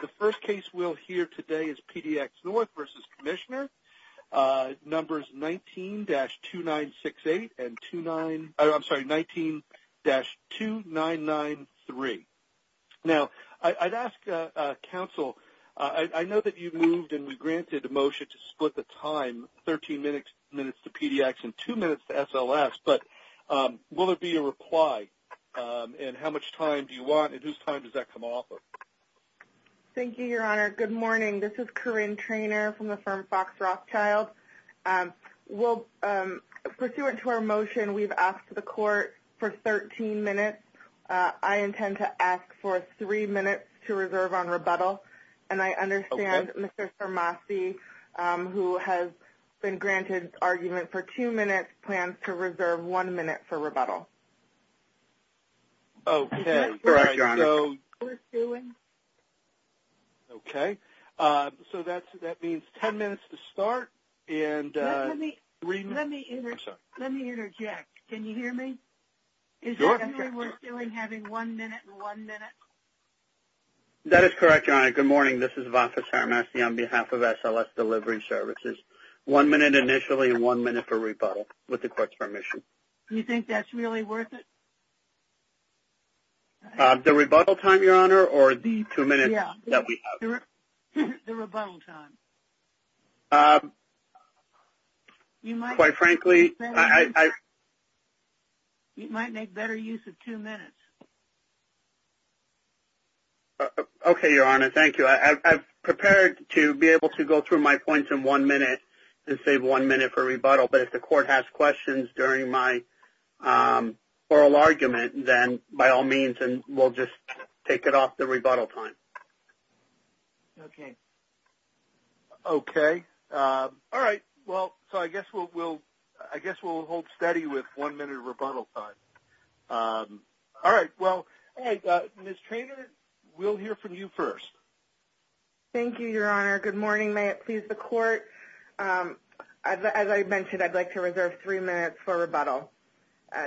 The first case we'll hear today is PDX North v. Comm NJ Dept Labor, numbers 19-2968 and 19-2993. Now, I'd ask Council, I know that you moved and we granted a motion to split the time, 13 minutes to PDX and 2 minutes to SLS, but will there be a reply and how much time do you want and whose time does that come off of? Thank you, Your Honor. Good morning. This is Corinne Traynor from the firm Fox Rothschild. Pursuant to our motion, we've asked the Court for 13 minutes. I intend to ask for 3 minutes to reserve on rebuttal. And I understand Mr. Sarmazi, who has been granted argument for 2 minutes, plans to reserve 1 minute for rebuttal. Okay. Correct, Your Honor. Is that what we're doing? Okay. So that means 10 minutes to start. Let me interject. Can you hear me? Sure. Is that what we're doing, having 1 minute and 1 minute? That is correct, Your Honor. Good morning. This is Vafa Sarmazi on behalf of SLS Delivery Services. 1 minute initially and 1 minute for rebuttal, with the Court's permission. Do you think that's really worth it? The rebuttal time, Your Honor, or the 2 minutes that we have? The rebuttal time. Quite frankly, I... You might make better use of 2 minutes. Okay, Your Honor. Thank you. I'm prepared to be able to go through my points in 1 minute and save 1 minute for rebuttal. But if the Court has questions during my oral argument, then by all means, we'll just take it off the rebuttal time. Okay. Okay. All right. Well, so I guess we'll hold steady with 1 minute of rebuttal time. All right. Well, Ms. Treanor, we'll hear from you first. Thank you, Your Honor. Good morning. May it please the Court. As I mentioned, I'd like to reserve 3 minutes for rebuttal.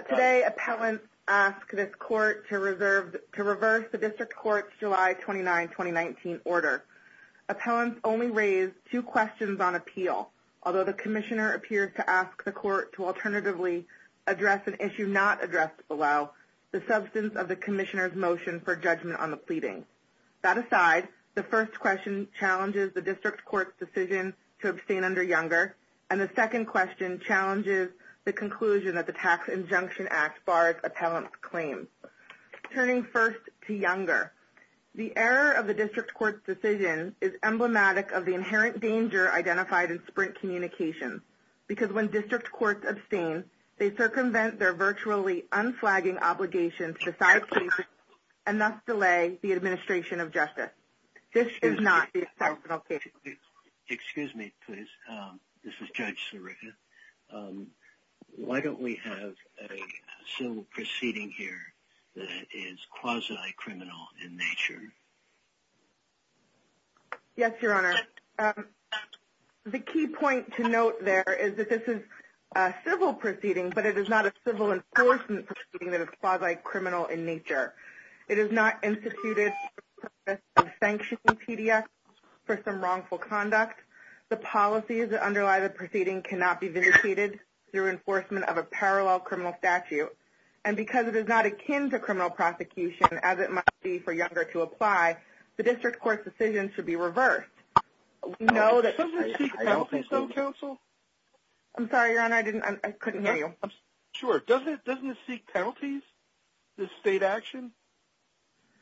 Today, appellants asked this Court to reverse the District Court's July 29, 2019 order. Appellants only raised 2 questions on appeal, although the Commissioner appears to ask the Court to alternatively address an issue not addressed below, the substance of the Commissioner's motion for judgment on the pleading. That aside, the first question challenges the District Court's decision to abstain under Younger, and the second question challenges the conclusion that the Tax Injunction Act bars appellants' claims. Turning first to Younger, the error of the District Court's decision is emblematic of the inherent danger identified in Sprint Communications, because when District Courts abstain, they circumvent their virtually unflagging obligation to decide cases and thus delay the administration of justice. This is not the exceptional case. Excuse me, please. This is Judge Sirica. Why don't we have a civil proceeding here that is quasi-criminal in nature? Yes, Your Honor. The key point to note there is that this is a civil proceeding, but it is not a civil enforcement proceeding that is quasi-criminal in nature. It is not instituted for the purpose of sanctioning PDS for some wrongful conduct. The policies that underlie the proceeding cannot be vindicated through enforcement of a parallel criminal statute. And because it is not akin to criminal prosecution, as it might be for Younger to apply, the District Court's decision should be reversed. Does it seek penalties, though, counsel? I'm sorry, Your Honor. I couldn't hear you. Sure. Doesn't it seek penalties, this state action?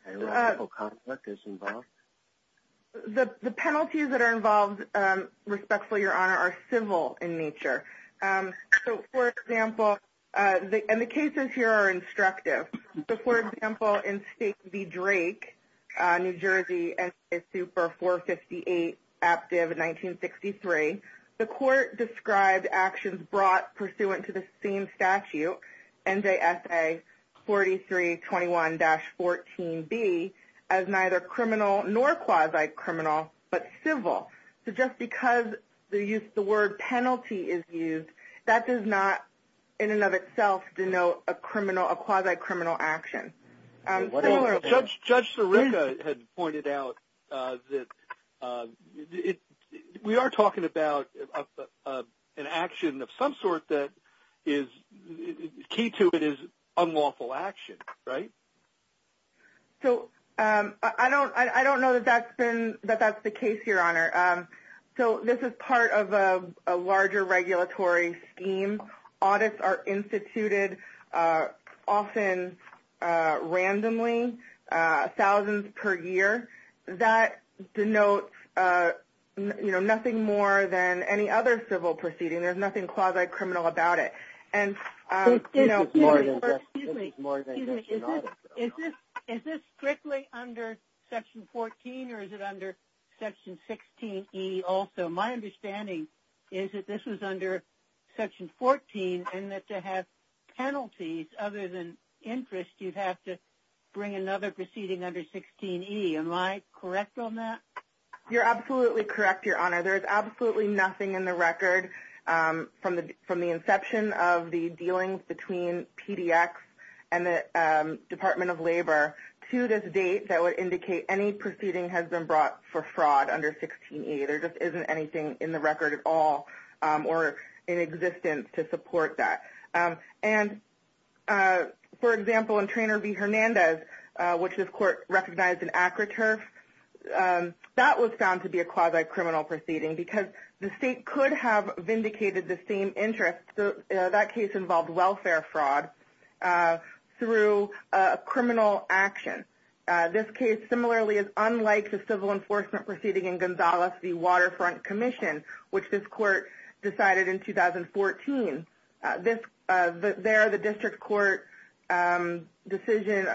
The penalties that are involved, respectfully, Your Honor, are civil in nature. So, for example, and the cases here are instructive. So, for example, in State v. Drake, New Jersey, S.A. Super 458, active 1963, the court described actions brought pursuant to the same statute, NJSA 4321-14B, as neither criminal nor quasi-criminal, but civil. So just because the word penalty is used, that does not, in and of itself, denote a quasi-criminal action. Judge Sirica had pointed out that we are talking about an action of some sort that is – key to it is unlawful action, right? So I don't know that that's the case, Your Honor. So this is part of a larger regulatory scheme. Audits are instituted often randomly, thousands per year. That denotes nothing more than any other civil proceeding. There's nothing quasi-criminal about it. This is more than just an audit, Your Honor. Is this strictly under Section 14 or is it under Section 16E also? My understanding is that this was under Section 14 and that to have penalties other than interest, you'd have to bring another proceeding under 16E. Am I correct on that? You're absolutely correct, Your Honor. There's absolutely nothing in the record from the inception of the dealings between PDX and the Department of Labor to this date that would indicate any proceeding has been brought for fraud under 16E. There just isn't anything in the record at all or in existence to support that. And, for example, in Traynor v. Hernandez, which this court recognized in ACROTURF, that was found to be a quasi-criminal proceeding because the state could have vindicated the same interest. That case involved welfare fraud through criminal action. This case, similarly, is unlike the civil enforcement proceeding in Gonzales v. Waterfront Commission, which this court decided in 2014. There, the district court decision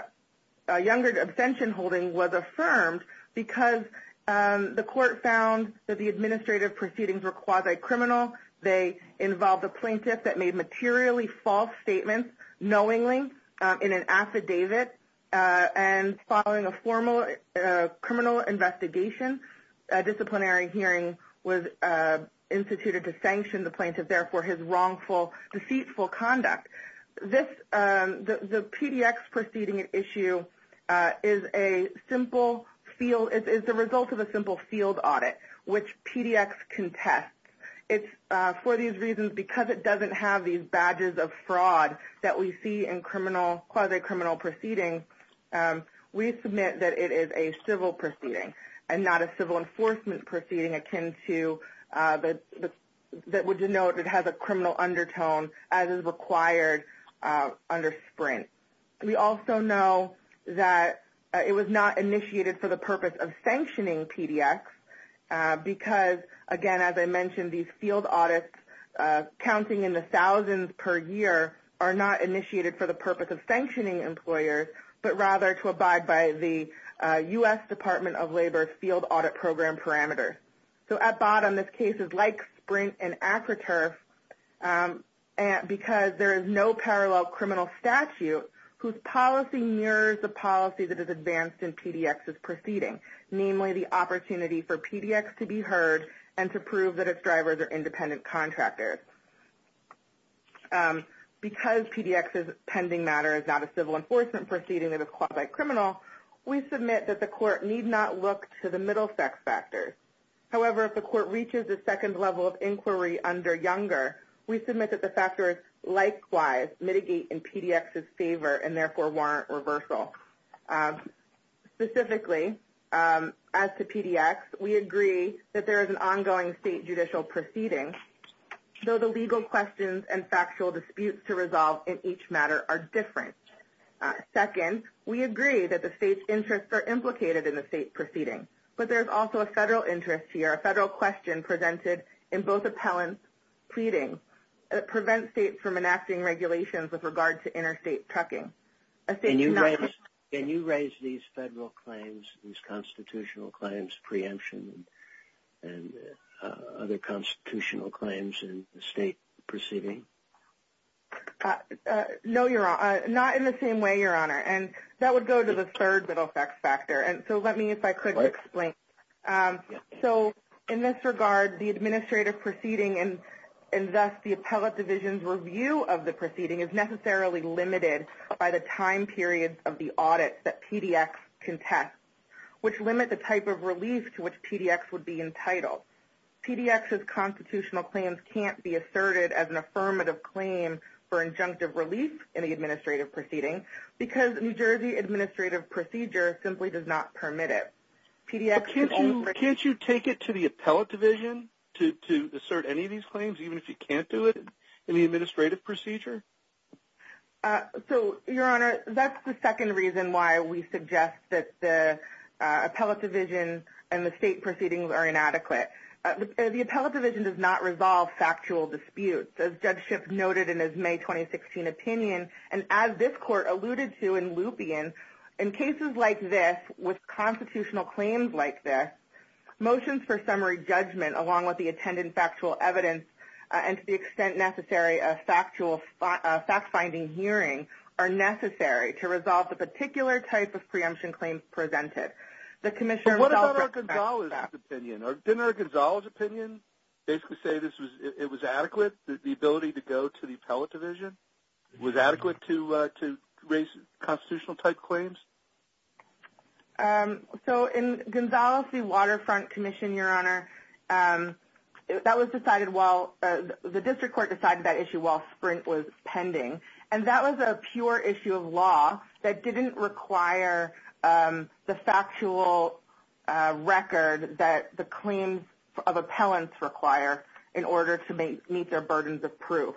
Younger Abstention Holding was affirmed because the court found that the administrative proceedings were quasi-criminal. They involved a plaintiff that made materially false statements knowingly in an affidavit. And following a formal criminal investigation, a disciplinary hearing was instituted to sanction the plaintiff, therefore, his wrongful, deceitful conduct. The PDX proceeding issue is the result of a simple field audit, which PDX contests. For these reasons, because it doesn't have these badges of fraud that we see in quasi-criminal proceedings, we submit that it is a civil proceeding and not a civil enforcement proceeding akin to that would denote it has a criminal undertone as is required under SPRINT. We also know that it was not initiated for the purpose of sanctioning PDX because, again, as I mentioned, these field audits counting in the thousands per year are not initiated for the purpose of sanctioning employers, but rather to abide by the U.S. Department of Labor's field audit program parameters. So at bottom, this case is like SPRINT and ACROTERF because there is no parallel criminal statute whose policy mirrors the policy that is advanced in PDX's proceeding, namely the opportunity for PDX to be heard and to prove that its drivers are independent contractors. Because PDX's pending matter is not a civil enforcement proceeding that is quasi-criminal, we submit that the court need not look to the middle sex factors. However, if the court reaches a second level of inquiry under younger, we submit that the factors likewise mitigate in PDX's favor and therefore warrant reversal. Specifically, as to PDX, we agree that there is an ongoing state judicial proceeding, though the legal questions and factual disputes to resolve in each matter are different. Second, we agree that the state's interests are implicated in the state proceeding, but there is also a federal interest here, a federal question presented in both appellants' pleadings that prevent states from enacting regulations with regard to interstate trucking. Can you raise these federal claims, these constitutional claims, preemption, and other constitutional claims in the state proceeding? No, Your Honor. Not in the same way, Your Honor. And that would go to the third middle sex factor. And so let me, if I could, explain. So in this regard, the administrative proceeding and thus the appellate division's review of the proceeding is necessarily limited by the time period of the audit that PDX contests, which limit the type of relief to which PDX would be entitled. PDX's constitutional claims can't be asserted as an affirmative claim for injunctive relief in the administrative proceeding because New Jersey administrative procedure simply does not permit it. Can't you take it to the appellate division to assert any of these claims, even if you can't do it in the administrative procedure? So, Your Honor, that's the second reason why we suggest that the appellate division and the state proceedings are inadequate. The appellate division does not resolve factual disputes, as Judge Schiff noted in his May 2016 opinion, and as this Court alluded to in Lupien, in cases like this, with constitutional claims like this, motions for summary judgment, along with the attendant factual evidence and, to the extent necessary, a fact-finding hearing, are necessary to resolve the particular type of preemption claims presented. But what about our Gonzales' opinion? Didn't our Gonzales' opinion basically say it was adequate, the ability to go to the appellate division? Was it adequate to raise constitutional-type claims? So, in Gonzales v. Waterfront Commission, Your Honor, the district court decided that issue while Sprint was pending, and that was a pure issue of law that didn't require the factual record that the claims of appellants require in order to meet their burdens of proof.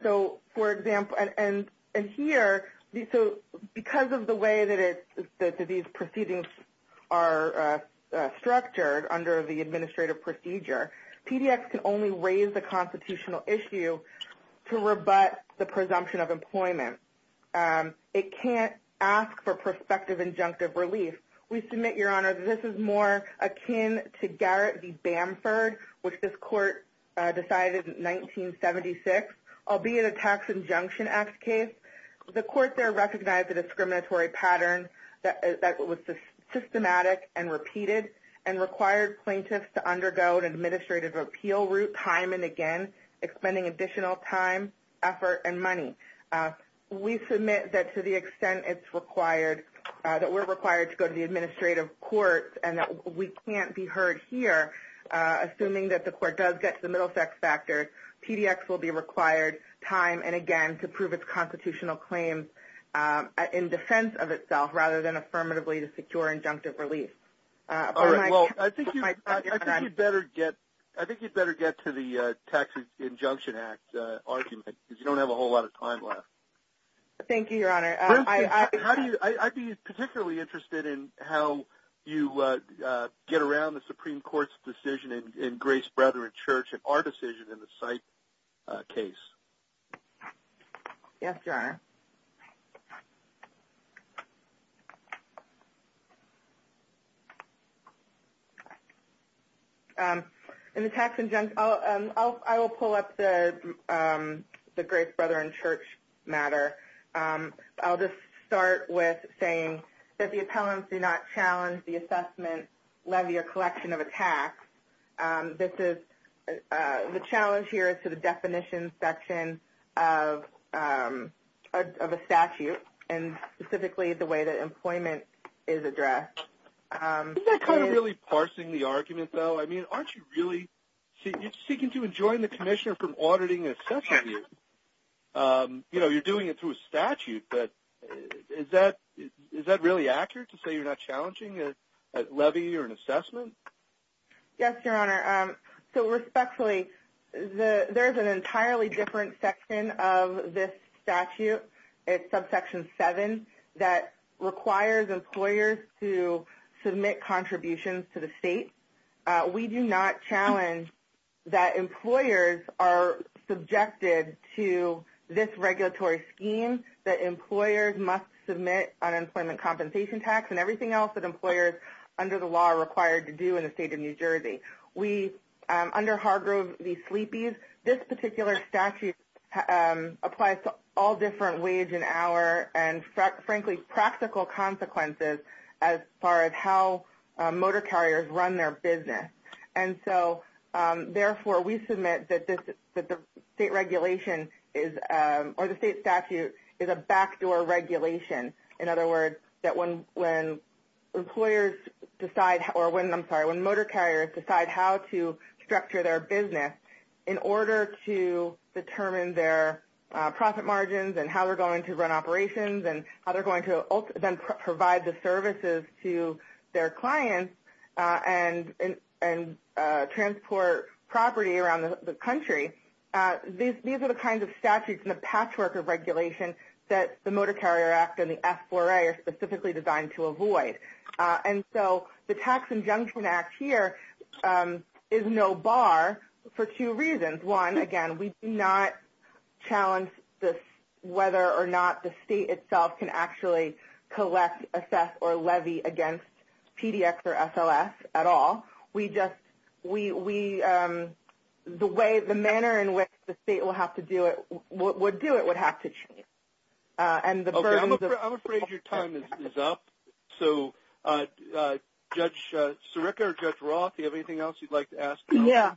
So, for example, and here, because of the way that these proceedings are structured under the administrative procedure, PDX can only raise a constitutional issue to rebut the presumption of employment. It can't ask for prospective injunctive relief. We submit, Your Honor, that this is more akin to Garrett v. Bamford, which this Court decided in 1976, albeit a Tax Injunction Act case. The Court there recognized the discriminatory pattern that was systematic and repeated, and required plaintiffs to undergo an administrative repeal route time and again, expending additional time, effort, and money. We submit that to the extent it's required, that we're required to go to the administrative courts, and that we can't be heard here, assuming that the Court does get to the middle sex factor, PDX will be required time and again to prove its constitutional claims in defense of itself, rather than affirmatively to secure injunctive relief. Well, I think you'd better get to the Tax Injunction Act argument, because you don't have a whole lot of time left. Thank you, Your Honor. I'd be particularly interested in how you get around the Supreme Court's decision in Grace Brethren Church and our decision in the Syke case. In the Tax Injunction Act, I will pull up the Grace Brethren Church matter. I'll just start with saying that the appellants do not challenge the assessment, levy, or collection of a tax. The challenge here is to the definition section of a statute, and specifically the way that employment is addressed. Isn't that kind of really parsing the argument, though? I mean, aren't you really seeking to enjoin the Commissioner from auditing and assessing you? You know, you're doing it through a statute, but is that really accurate to say you're not challenging a levy or an assessment? Yes, Your Honor. So, respectfully, there's an entirely different section of this statute. It's subsection 7 that requires employers to submit contributions to the state. We do not challenge that employers are subjected to this regulatory scheme, that employers must submit unemployment compensation tax and everything else that employers under the law are required to do in the state of New Jersey. Under Hargrove v. Sleepy's, this particular statute applies to all different wage and hour and, frankly, practical consequences as far as how motor carriers run their business. And so, therefore, we submit that the state regulation or the state statute is a backdoor regulation. In other words, that when motor carriers decide how to structure their business in order to determine their profit margins and how they're going to run operations and how they're going to then provide the services to their clients and transport property around the country, these are the kinds of statutes and the patchwork of regulation that the Motor Carrier Act and the F4A are specifically designed to avoid. And so the Tax Injunction Act here is no bar for two reasons. One, again, we do not challenge whether or not the state itself can actually collect, assess, or levy against PDX or SLS at all. The manner in which the state would do it would have to change. I'm afraid your time is up. So, Judge Sirica or Judge Roth, do you have anything else you'd like to ask? Yeah,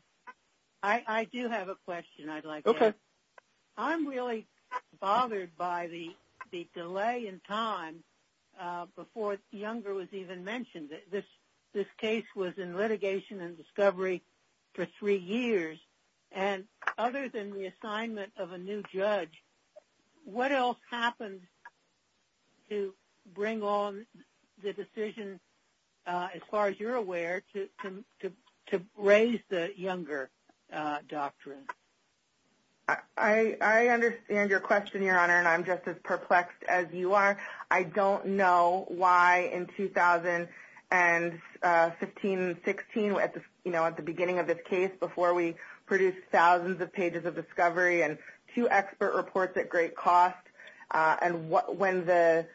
I do have a question I'd like to ask. I'm really bothered by the delay in time before Younger was even mentioned. This case was in litigation and discovery for three years. And other than the assignment of a new judge, what else happened to bring on the decision, as far as you're aware, to raise the Younger doctrine? I understand your question, Your Honor, and I'm just as perplexed as you are. I don't know why in 2015-16, at the beginning of this case, before we produced thousands of pages of discovery and two expert reports at great cost, and when the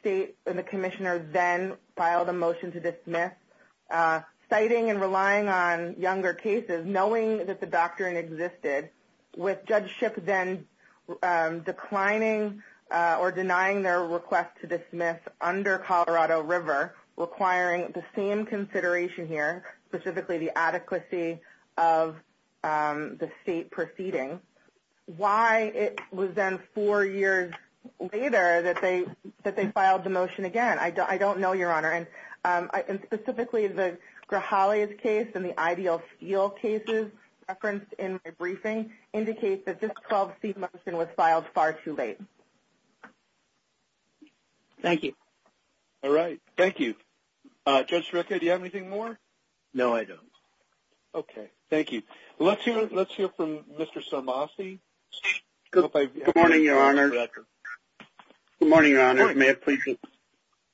state and the Commissioner then filed a motion to dismiss, citing and relying on Younger cases, knowing that the doctrine existed, with Judge Shipp then declining or denying their request to dismiss under Colorado River, requiring the same consideration here, specifically the adequacy of the state proceeding. Why it was then four years later that they filed the motion again, I don't know, Your Honor. And specifically, the Grijales case and the Ideal Steel cases referenced in my briefing indicate that this 12-seat motion was filed far too late. Thank you. All right. Thank you. Judge Sreka, do you have anything more? No, I don't. Okay. Thank you. Let's hear from Mr. Sambasi. Good morning, Your Honor. Good morning, Your Honor. May it please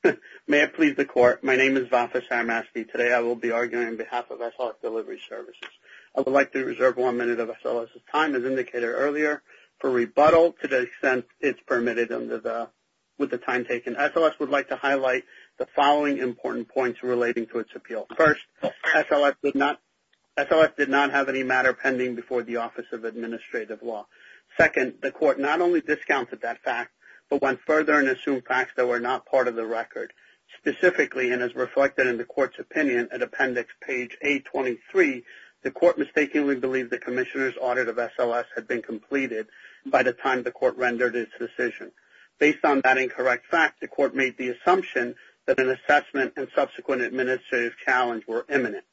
the Court, my name is Vafis Sambasi. Today I will be arguing on behalf of SLS Delivery Services. I would like to reserve one minute of SLS's time, as indicated earlier, for rebuttal to the extent it's permitted with the time taken. SLS would like to highlight the following important points relating to its appeal. First, SLS did not have any matter pending before the Office of Administrative Law. Second, the Court not only discounted that fact, but went further and assumed facts that were not part of the record. Specifically, and as reflected in the Court's opinion, at Appendix page 823, the Court mistakenly believed the Commissioner's audit of SLS had been completed by the time the Court rendered its decision. Based on that incorrect fact, the Court made the assumption that an assessment and subsequent administrative challenge were imminent.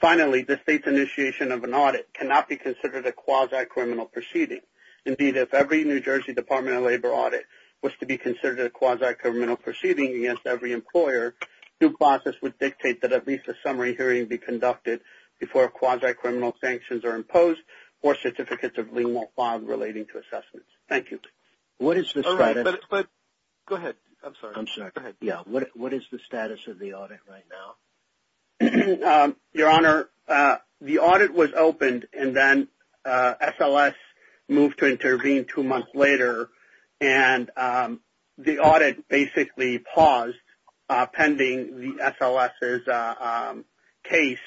Finally, the State's initiation of an audit cannot be considered a quasi-criminal proceeding. Indeed, if every New Jersey Department of Labor audit was to be considered a quasi-criminal proceeding against every employer, due process would dictate that at least a summary hearing be conducted before quasi-criminal sanctions are imposed or certificates of lien won't file relating to assessments. Thank you. What is the status of the audit right now? Your Honor, the audit was opened and then SLS moved to intervene two months later. The audit basically paused pending the SLS's case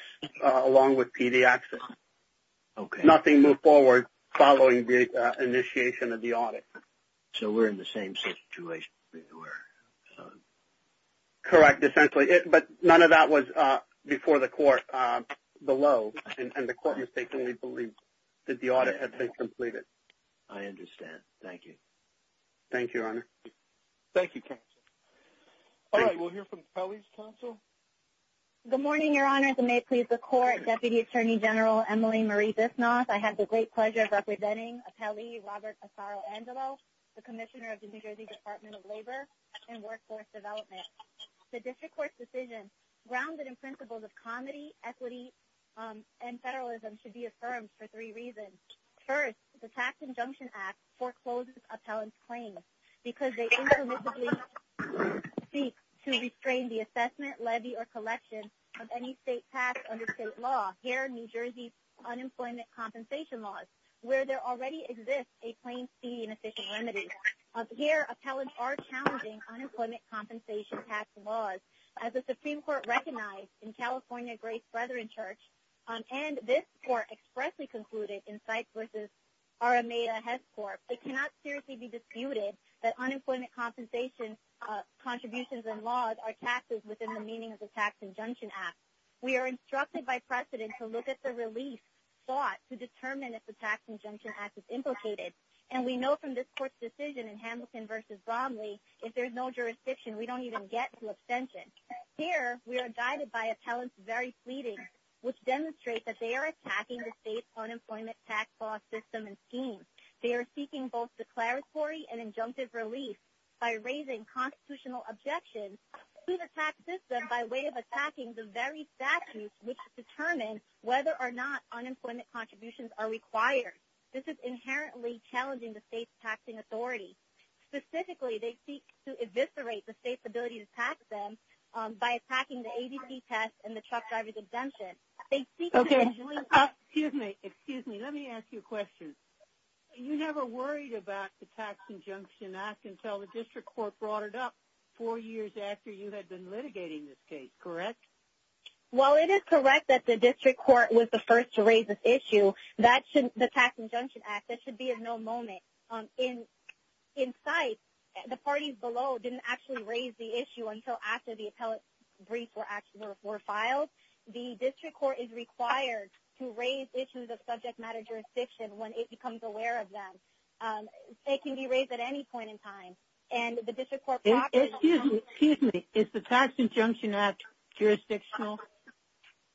along with PDX's. Nothing moved forward following the initiation of the audit. So we're in the same situation? Correct, essentially. But none of that was before the Court below. And the Court mistakenly believed that the audit had been completed. I understand. Thank you. Thank you, Your Honor. Thank you, Counsel. All right, we'll hear from Pelley's counsel. Good morning, Your Honor. If it may please the Court, Deputy Attorney General Emily Marie Bissnoff. I have the great pleasure of representing Pelley Robert Asaro-Angelo, the Commissioner of the New Jersey Department of Labor and Workforce Development. The District Court's decision, grounded in principles of comedy, equity, and federalism, should be affirmed for three reasons. First, the Tax Injunction Act forecloses appellants' claims because they implicitly seek to restrain the assessment, levy, or collection of any state tax under state law here in New Jersey's unemployment compensation laws where there already exists a claim to be an efficient remedy. Here, appellants are challenging unemployment compensation tax laws. As the Supreme Court recognized in California Grace Brethren Church and this Court expressly concluded in Sykes v. R.M.A. Hess Court, it cannot seriously be disputed that unemployment compensation contributions and laws are taxes within the meaning of the Tax Injunction Act. We are instructed by precedent to look at the relief sought to determine if the Tax Injunction Act is implicated. And we know from this Court's decision in Hamilton v. Bromley, if there is no jurisdiction, we don't even get to abstention. Here, we are guided by appellants' very pleadings, which demonstrate that they are attacking the state's unemployment tax law system and scheme. They are seeking both declaratory and injunctive relief by raising constitutional objections to the tax system by way of attacking the very statutes which determine whether or not unemployment contributions are required. This is inherently challenging the state's taxing authority. Specifically, they seek to eviscerate the state's ability to tax them by attacking the ABC test and the truck driver's exemption. Excuse me, let me ask you a question. You never worried about the Tax Injunction Act until the District Court brought it up four years after you had been litigating this case, correct? Well, it is correct that the District Court was the first to raise this issue. The Tax Injunction Act, that should be of no moment in sight. The parties below didn't actually raise the issue until after the appellate briefs were filed. The District Court is required to raise issues of subject matter jurisdiction when it becomes aware of them. They can be raised at any point in time. Excuse me, is the Tax Injunction Act jurisdictional?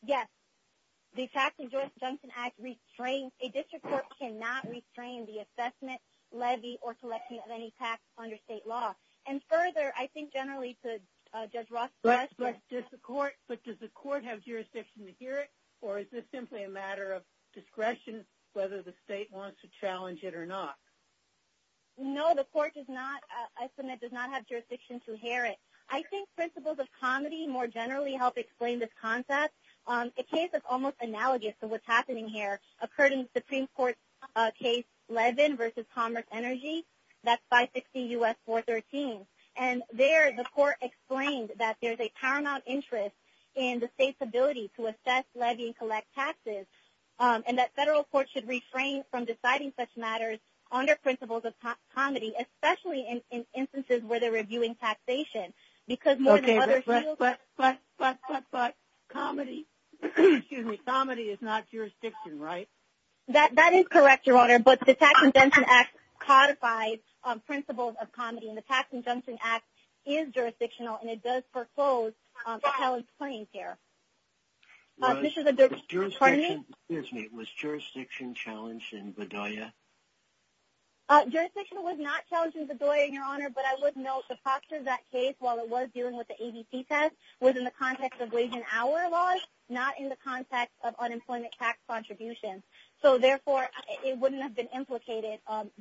Yes, the Tax Injunction Act restrains, a District Court cannot restrain the assessment, levy or collection of any tax under state law. And further, I think generally to Judge Ross's question. But does the court have jurisdiction to hear it or is this simply a matter of discretion whether the state wants to challenge it or not? No, the court does not, I submit, does not have jurisdiction to hear it. I think principles of comity more generally help explain this concept. A case that's almost analogous to what's happening here occurred in the Supreme Court case Levin v. Commerce Energy, that's 560 U.S. 413. And there the court explained that there's a paramount interest in the state's ability to assess, levy and collect taxes and that federal courts should refrain from deciding such matters under principles of comity, especially in instances where they're reviewing taxation. But comity is not jurisdiction, right? That is correct, Your Honor, but the Tax Injunction Act codifies principles of comity and the Tax Injunction Act is jurisdictional and it does foreclose the challenge claims here. Was jurisdiction challenged in Bedoya? Jurisdiction was not challenged in Bedoya, Your Honor, but I would note the posture of that case, while it was dealing with the ABC test, was in the context of wage and hour laws, not in the context of unemployment tax contributions. So therefore, it wouldn't have been implicated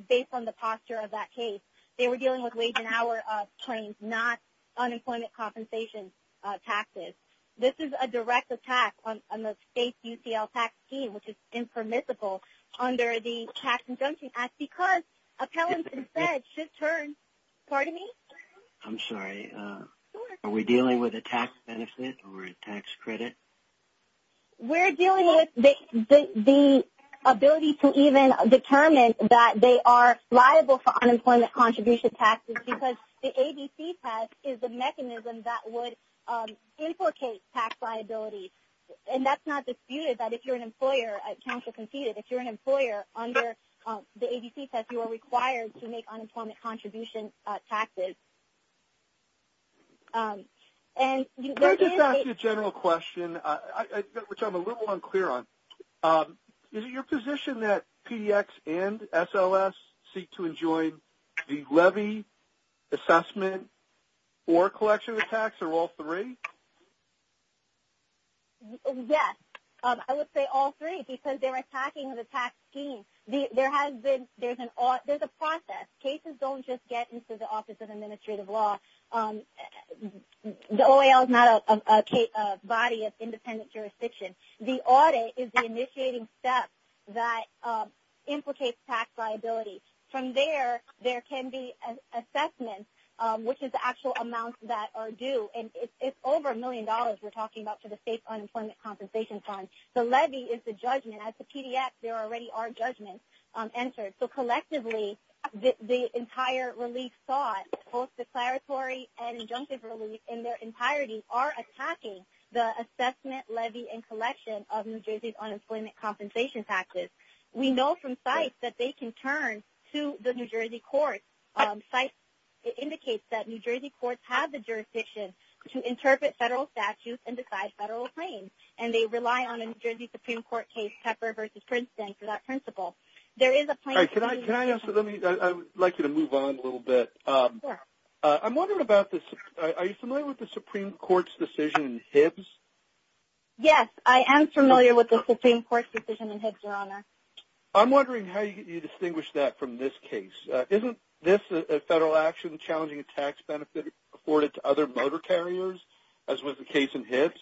based on the posture of that case. They were dealing with wage and hour claims, not unemployment compensation taxes. This is a direct attack on the state's UCL tax scheme, which is impermissible under the Tax Injunction Act and appellants instead should turn, pardon me? I'm sorry, are we dealing with a tax benefit or a tax credit? We're dealing with the ability to even determine that they are liable for unemployment contribution taxes because the ABC test is a mechanism that would implicate tax liability. And that's not disputed, that if you're an employer, counsel conceded, if you're an employer, under the ABC test, you are required to make unemployment contribution taxes. And there is a... Let me just ask you a general question, which I'm a little unclear on. Is it your position that PDX and SLS seek to enjoin the levy, assessment, or collection of tax, or all three? Yes, I would say all three because they're attacking the tax scheme. There has been, there's a process. Cases don't just get into the Office of Administrative Law. The OAL is not a body of independent jurisdiction. The audit is the initiating step that implicates tax liability. From there, there can be assessments, which is the actual amounts that are due. And it's over a million dollars we're talking about for the state's unemployment compensation fund. The levy is the judgment. At the PDX, there already are judgments entered. So collectively, the entire relief thought, both declaratory and injunctive relief in their entirety, are attacking the assessment, levy, and collection of New Jersey's unemployment compensation taxes. We know from sites that they can turn to the New Jersey courts. Sites, it indicates that New Jersey courts have the jurisdiction to interpret federal statutes and decide federal claims. And there's a New Jersey Supreme Court case, Pepper v. Princeton, for that principle. There is a plaintiff... Can I ask, I'd like you to move on a little bit. Sure. I'm wondering about this, are you familiar with the Supreme Court's decision in Hibbs? Yes, I am familiar with the Supreme Court's decision in Hibbs, Your Honor. I'm wondering how you distinguish that from this case. Isn't this a federal action challenging a tax benefit afforded to other motor carriers, as was the case in Hibbs?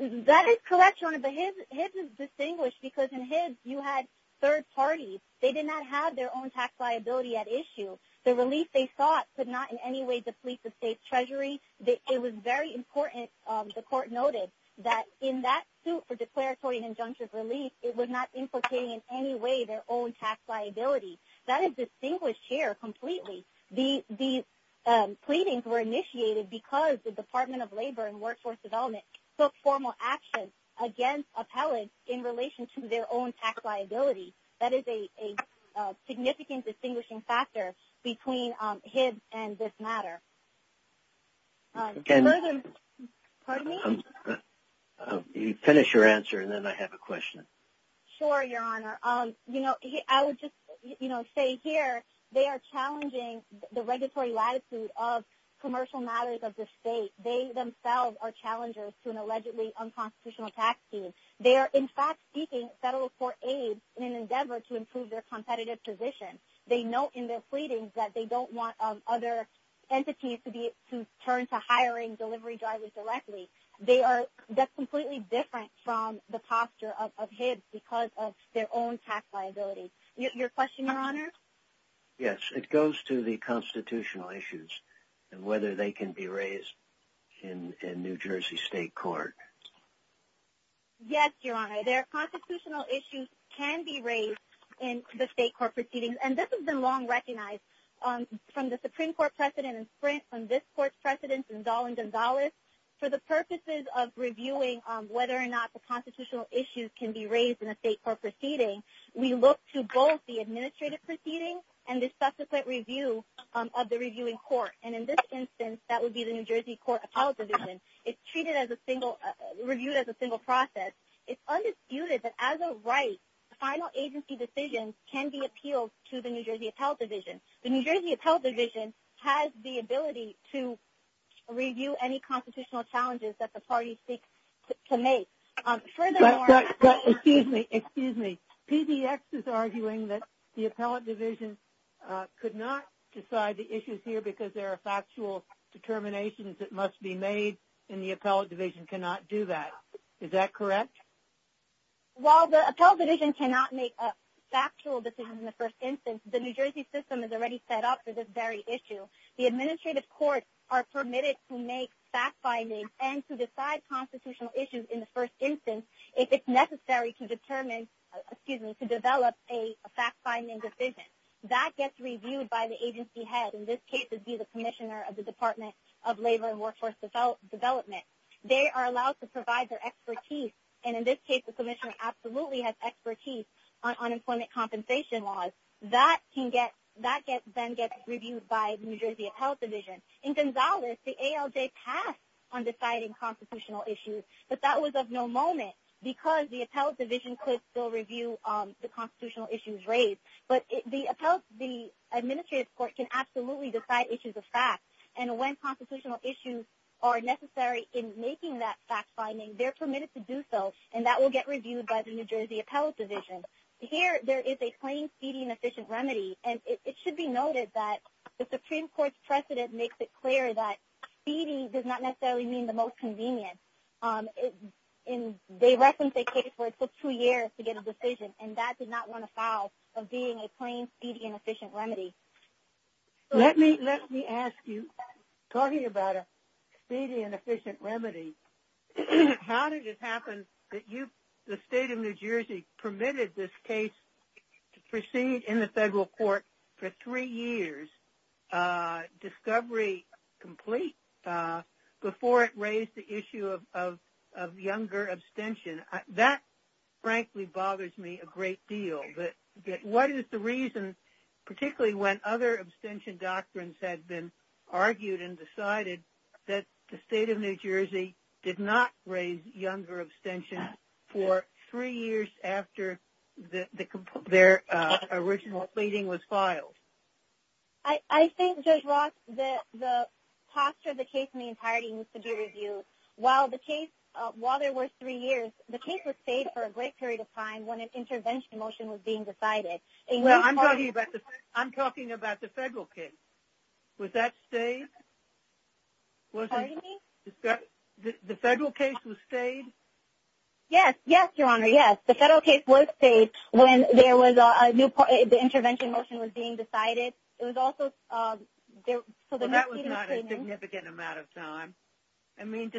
That is correct, Your Honor, but Hibbs is distinguished because in Hibbs, you had third parties. They did not have their own tax liability at issue. The relief they sought could not in any way deplete the state's treasury. It was very important, the court noted, that in that suit for declaratory and injunctive relief, it was not implicating in any way their own tax liability. The pleadings were initiated because the Department of Labor and Workforce Administration took formal action against appellants in relation to their own tax liability. That is a significant distinguishing factor between Hibbs and this matter. You finish your answer and then I have a question. Sure, Your Honor. I would just say here, they are challenging the regulatory latitude of commercial matters of the state. They themselves are challengers to an allegedly unconstitutional tax scheme. They are in fact seeking federal court aid in an endeavor to improve their competitive position. They note in their pleadings that they don't want other entities to turn to hiring delivery drivers directly. That's completely different from the posture of Hibbs because of their own tax liability. Your question, Your Honor? Yes, it goes to the constitutional issues and whether they can be raised. In New Jersey state court. Yes, Your Honor. Their constitutional issues can be raised in the state court proceedings. This has been long recognized from the Supreme Court precedent in Sprint, from this court's precedents in Dahl and Gonzales. For the purposes of reviewing whether or not the constitutional issues can be raised in a state court proceeding, we look to both the administrative proceedings and the subsequent review of the reviewing court. In this instance, that would be the New Jersey Appellate Division. It's reviewed as a single process. It's undisputed that as a right, final agency decisions can be appealed to the New Jersey Appellate Division. The New Jersey Appellate Division has the ability to review any constitutional challenges that the parties seek to make. Furthermore... Excuse me, excuse me. PDX is arguing that the Appellate Division could not decide the issues here because there are factual determinations that must be made, and the Appellate Division cannot do that. Is that correct? While the Appellate Division cannot make a factual decision in the first instance, the New Jersey system is already set up for this very issue. The administrative courts are permitted to make fact-finding and to decide constitutional issues in the first instance if it's necessary to determine, excuse me, to develop a fact-finding decision. That gets reviewed by the agency head, in this case it would be the Commissioner of the Department of Labor and Workforce Development. They are allowed to provide their expertise, and in this case the Commissioner absolutely has expertise on unemployment compensation laws. That then gets reviewed by the New Jersey Appellate Division. In Gonzales, the ALJ passed on deciding constitutional issues, but that was of no moment because the Appellate Division could still review the constitutional issues raised. But the Administrative Court can absolutely decide issues of fact and when constitutional issues are necessary in making that fact-finding, they're permitted to do so, and that will get reviewed by the New Jersey Appellate Division. Here there is a plain speeding efficient remedy, and it should be noted that the Supreme Court's precedent makes it clear that speeding does not necessarily mean the most convenient. They referenced a case where it took two years to get a decision, and that did not want to foul of being a plain speeding efficient remedy. Let me ask you, talking about a speeding and efficient remedy, how did it happen that the state of New Jersey permitted this case to proceed in the federal court for three years, discovery complete, before it raised the issue of younger abstention? That frankly bothers me a great deal. But what is the reason, particularly when other abstention doctrines had been argued and decided that the state of New Jersey did not raise younger abstention for three years after their original speeding was filed? I think, Judge Ross, the posture of the case in the entirety needs to be reviewed. While the case, while there were three years, the case was stayed for a great period of time when an intervention motion was being decided. I'm talking about the federal case. Was that stayed? Pardon me? The federal case was stayed? Yes, yes, Your Honor, yes. The federal case was stayed when the intervention motion was being decided. It was also... That was not a significant amount of time. I mean,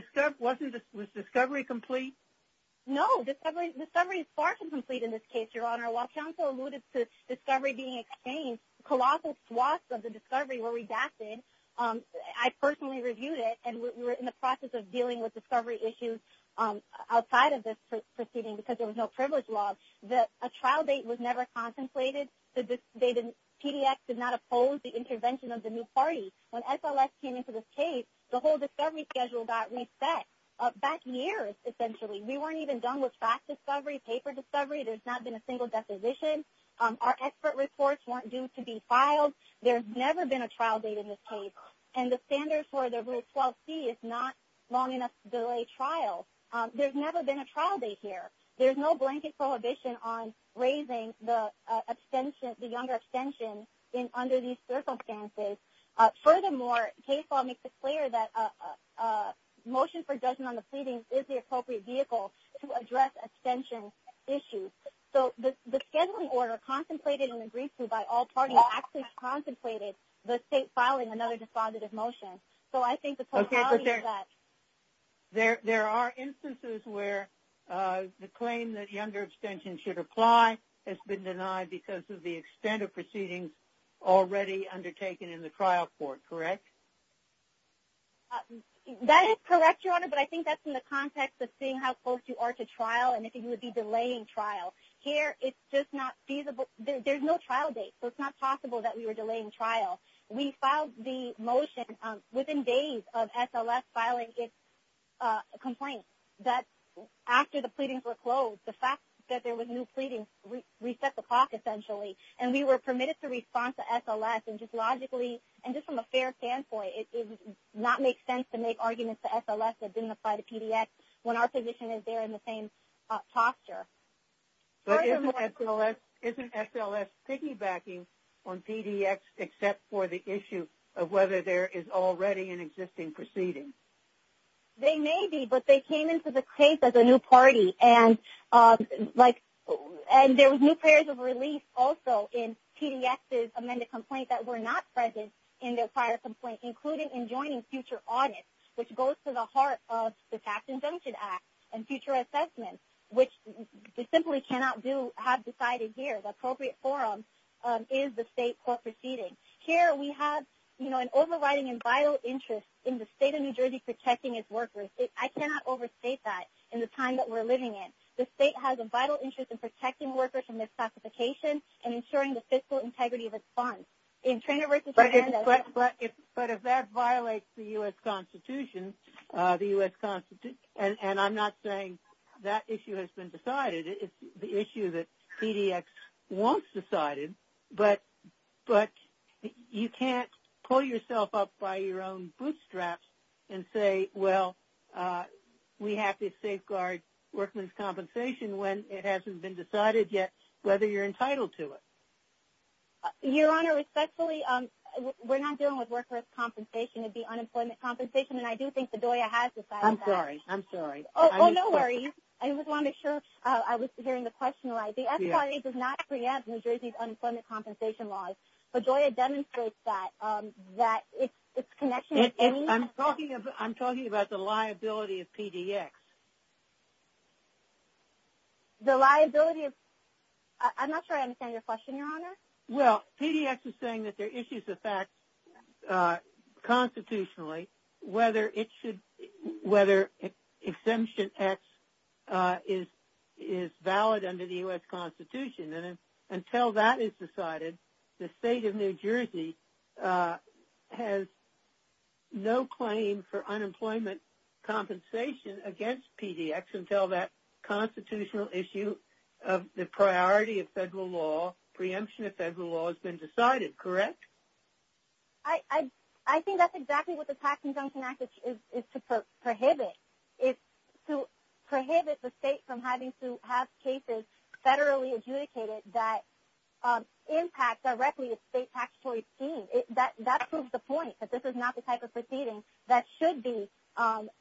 No, discovery is far from complete in this case, Your Honor. While counsel alluded to discovery in the case, colossal swaths of the discovery were redacted. I personally reviewed it and we were in the process of dealing with discovery issues outside of this proceeding because there was no privilege law. A trial date was never contemplated. PDX did not oppose the intervention of the new party. When SLS came into this case, the whole discovery schedule got reset back years, essentially. We weren't even done and we weren't due to be filed. There's never been a trial date in this case and the standards for the Rule 12c is not long enough to delay trial. There's never been a trial date here. There's no blanket prohibition on raising the abstention, the younger abstention under these circumstances. Furthermore, case law makes it clear that motion for judgment on the pleading is the appropriate vehicle to address abstention issues. So the scheduling order for all parties actually contemplated the state filing another despondentive motion. So I think the totality of that... There are instances where the claim that younger abstention should apply has been denied because of the extent of proceedings already undertaken in the trial court, correct? That is correct, Your Honor, but I think that's in the context of seeing how close you are to trial and if you would be delaying trial. Here, it's just not feasible. It's just not possible that we were delaying trial. We filed the motion within days of SLS filing its complaint that after the pleadings were closed, the fact that there was new pleadings reset the clock essentially and we were permitted to respond to SLS and just logically and just from a fair standpoint, it would not make sense to make arguments to SLS that didn't apply to PDX when our position is there in the same posture. Isn't SLS piggybacking on PDX except for the issue of whether there is already an existing proceeding? They may be, but they came into the case as a new party and there were new prayers of relief also in PDX's amended complaint that were not present in their prior complaint including in joining future audits which goes to the heart of the Tax Induction Act and they simply cannot have decided here the appropriate forum is the state court proceeding. Here we have an overriding and vital interest in the state of New Jersey protecting its workers. I cannot overstate that in the time that we're living in. The state has a vital interest in protecting workers from misclassification and ensuring the fiscal integrity of its funds. But if that violates the U.S. Constitution and I'm not saying that issue has been decided, it's the issue that PDX wants decided, but you can't pull yourself up by your own bootstraps and say well, we have to safeguard workmen's compensation when it hasn't been decided yet whether you're entitled to it. Your Honor, respectfully, we're not dealing with workers' compensation. It would be unemployment compensation and I do think that DOIA has decided that. I'm sorry. I'm sorry. Oh, no worries. I just wanted to make sure I was hearing the question right. The S.Y.A. does not preempt New Jersey's unemployment compensation laws, but DOIA demonstrates that its connection I'm talking about the liability of PDX. The liability of I'm not sure I understand your question, Your Honor. Well, PDX is saying that there are issues of facts constitutionally whether it should whether Exemption X is valid under the U.S. Constitution and until that is decided, the State of New Jersey has no claim for unemployment compensation against PDX until that constitutional issue of the priority of federal law preemption of federal law has been decided, correct? I think that's exactly what the Tax Conjunction Act is to prohibit. It's to prohibit the state from having to have cases federally adjudicated that impact directly the state taxatory scheme. That proves the point that this is not the type of proceeding that should be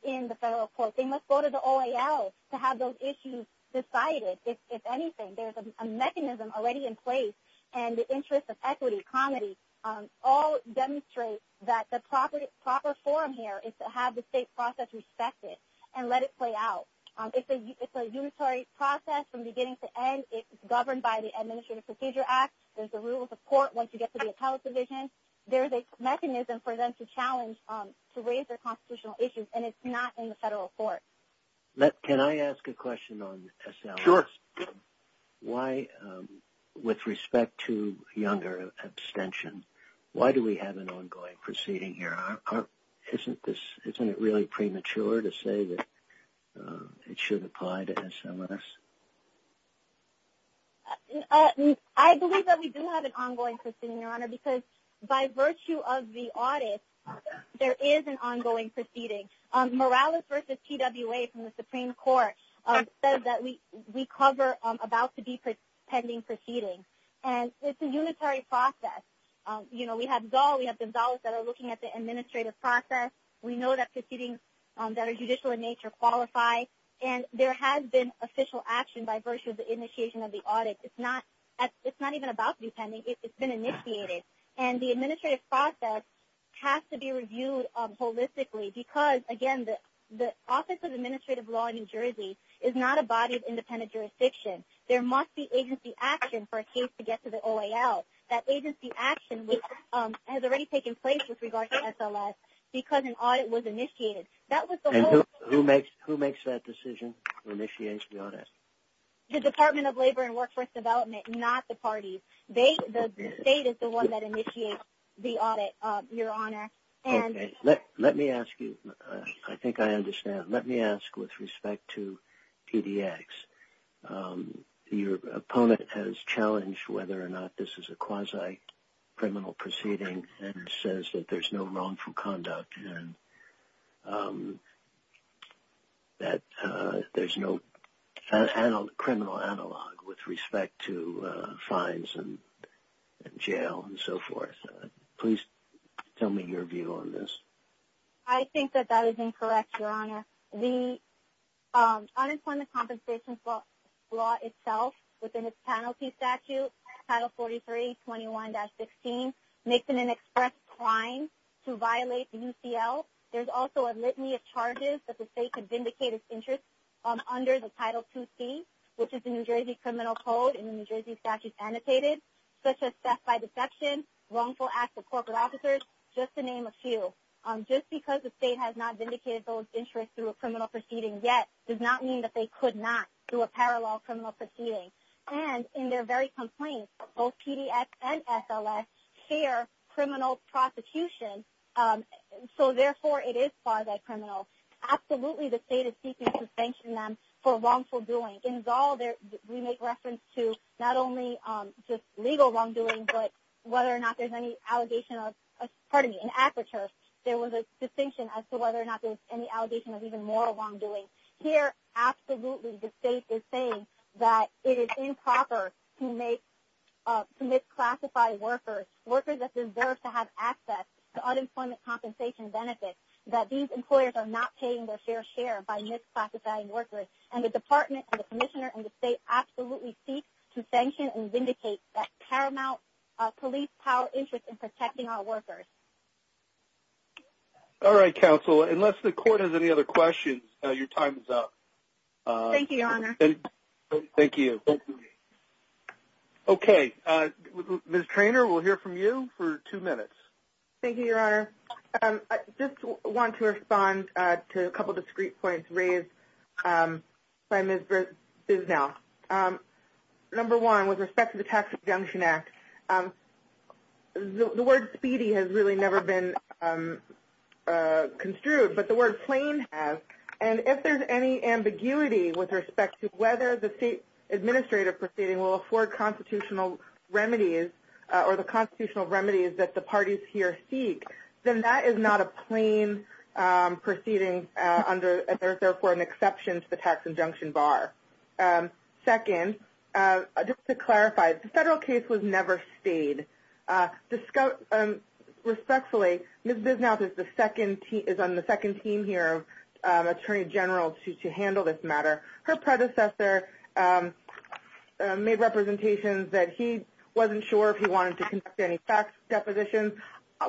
in the federal court. They must go to the OAL to have those issues decided. If anything, there's a mechanism already in place and the interest of equity, comity, all demonstrate that the proper forum here is to have the state process respected and let it play out. It's a unitary process from beginning to end. It's governed by the Administrative Procedure Act. There's the rules of court once you get to the appellate division. There's a mechanism for them to challenge to raise their constitutional issues and it's not in the federal court. Can I ask a question on this? Sure. Why with respect to younger abstention, why do we have an ongoing proceeding here? Isn't this really premature to say that it should apply to SMS? I believe that we do have an ongoing proceeding, Your Honor, because by virtue of the audit, there is an ongoing proceeding. Morales versus PWA from the Supreme Court said that we cover about 50% of the administrative it's not an ongoing proceeding. It's a unitary process. We have DAWs that are looking at the administrative process. We know that proceedings that are judicial in nature qualify and there has been official action by virtue of the initiation of the audit. It's not even about to be pending. It's been initiated and the administrative process has to be reviewed holistically because again, the Office of Administrative Law in New Jersey is not a body of independent jurisdiction. There must be agency action for a case to get to the OAL. That agency action has already taken place with regard to SLS because initiated. Who makes that decision or initiates the audit? The Department of Labor and Workforce Development, not the parties. The state is the one that initiates the audit, Your Honor. Okay. Let me ask you. I think I understand. Let me ask with respect to PDX. Your opponent has challenged whether or not this is a quasi-criminal proceeding and says that there's no wrongful conduct and that there's no criminal analog with respect to fines and jail and so forth. Please tell me your view on this. I think that that is incorrect, Your Honor. The Unemployment Compensation law itself within its penalty statute, Title 43, 21-16, makes it an express crime to violate the UCL. There's also a litany of charges that the state could vindicate its interest under the Title 2C, which is the New Jersey Criminal Code and the New Jersey statute annotated, such as theft by deception, wrongful acts of corporate officers, just to name a few. Just because the state has not vindicated those interests through a criminal proceeding yet does not mean that they could not do a parallel criminal proceeding. And in their very complaints, both PDX and SLS share criminal prosecution, so therefore it is quasi criminal. Absolutely, the state is seeking to sanction them for wrongful doing. In Zoll, we make reference to not only just legal wrongdoing, but whether or not there's any allegation of even more wrongdoing. Here, absolutely, the state is saying that it is improper to misclassify workers, workers that deserve to have access to unemployment compensation benefits, that these employers are not paying their fair share by misclassifying workers. And the department and the commissioner and the state absolutely seek to sanction and vindicate that paramount police power interest in protecting our workers. All right, counsel, unless the court has any other questions, your time is up. Thank you, your honor. Thank you. Okay, Ms. Treanor, we'll hear from you for two minutes. Thank you, your honor. I just want to respond to a couple discrete points raised by Ms. Bisnell. Number one, with respect to the Tax Adjunction Act, the word speedy has really never been construed, but the word plain has. And if there's any ambiguity with respect to whether the state administrative proceeding will afford constitutional remedies or the constitutional remedies that the parties here seek, then that is not a plain proceeding under, therefore, an exception to the tax adjunction bar. Second, just to clarify, the federal case was never stayed. Respectfully, Ms. Bisnell is on the second team here, Attorney General, to handle this matter. Her predecessor made representations that he wasn't sure if he wanted to conduct any fax depositions.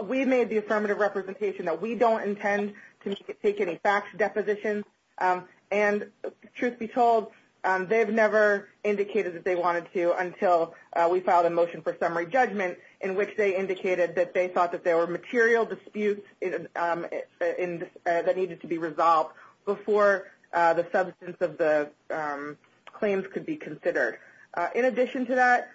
We made the affirmative representation that we don't intend to take any fax depositions. And, truth be told, they've never indicated that they wanted to until we filed a motion for summary judgment in which they indicated that they thought there were material disputes that needed to be resolved before the substance of the claims could be considered. In addition to that,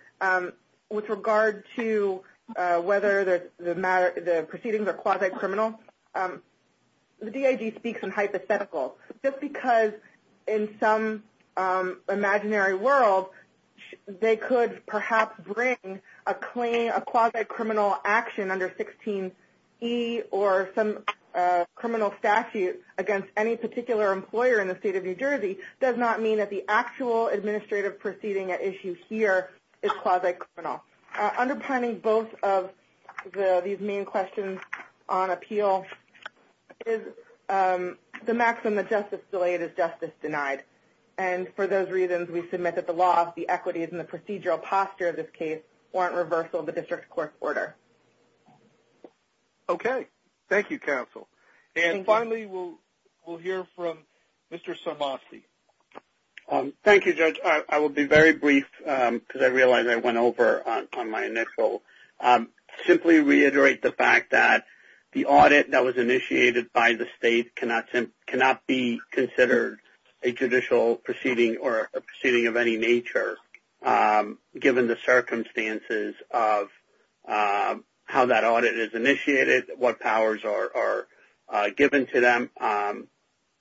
with regard to whether the proceedings are quasi criminal, the DIG speaks in hypothetical. Just because in some imaginary world, they could perhaps bring a quasi criminal action under 16E or some criminal statute against any particular employer in the state of New Jersey does not mean that the actual administrative proceeding at issue here is quasi criminal. Underpinning both of these main questions on appeal is the maximum that justice is delayed is justice denied. For those reasons, we submit that the laws, the equities, and the procedural posture of this case warrant reversal of the district court's order. Thank you, counsel. Finally, we will hear from Mr. Schultz to reiterate the fact that the audit initiated by the state cannot be considered a judicial proceeding of any nature given the circumstances of how that audit is initiated, what powers are given to them,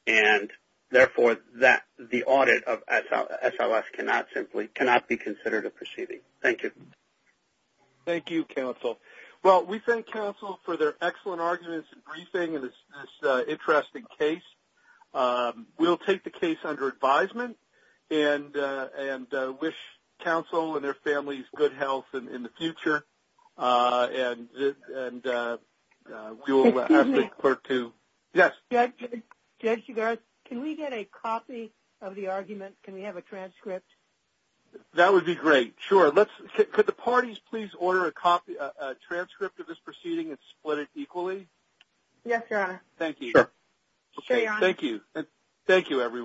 and therefore, the audit of SLS cannot be considered a proceeding. Thank you. Thank you, counsel. Well, we thank counsel for their excellent arguments and briefing in this interesting case. We will take the case under advisement and wish counsel and their families good health in the future. And we will ask the clerk to... Yes? Judge, can we get a copy of the argument? Can we have a transcript? That would be great. Sure. Could the parties please order a transcript of this proceeding and split it equally? Yes, Your Honor. Thank you. Thank you,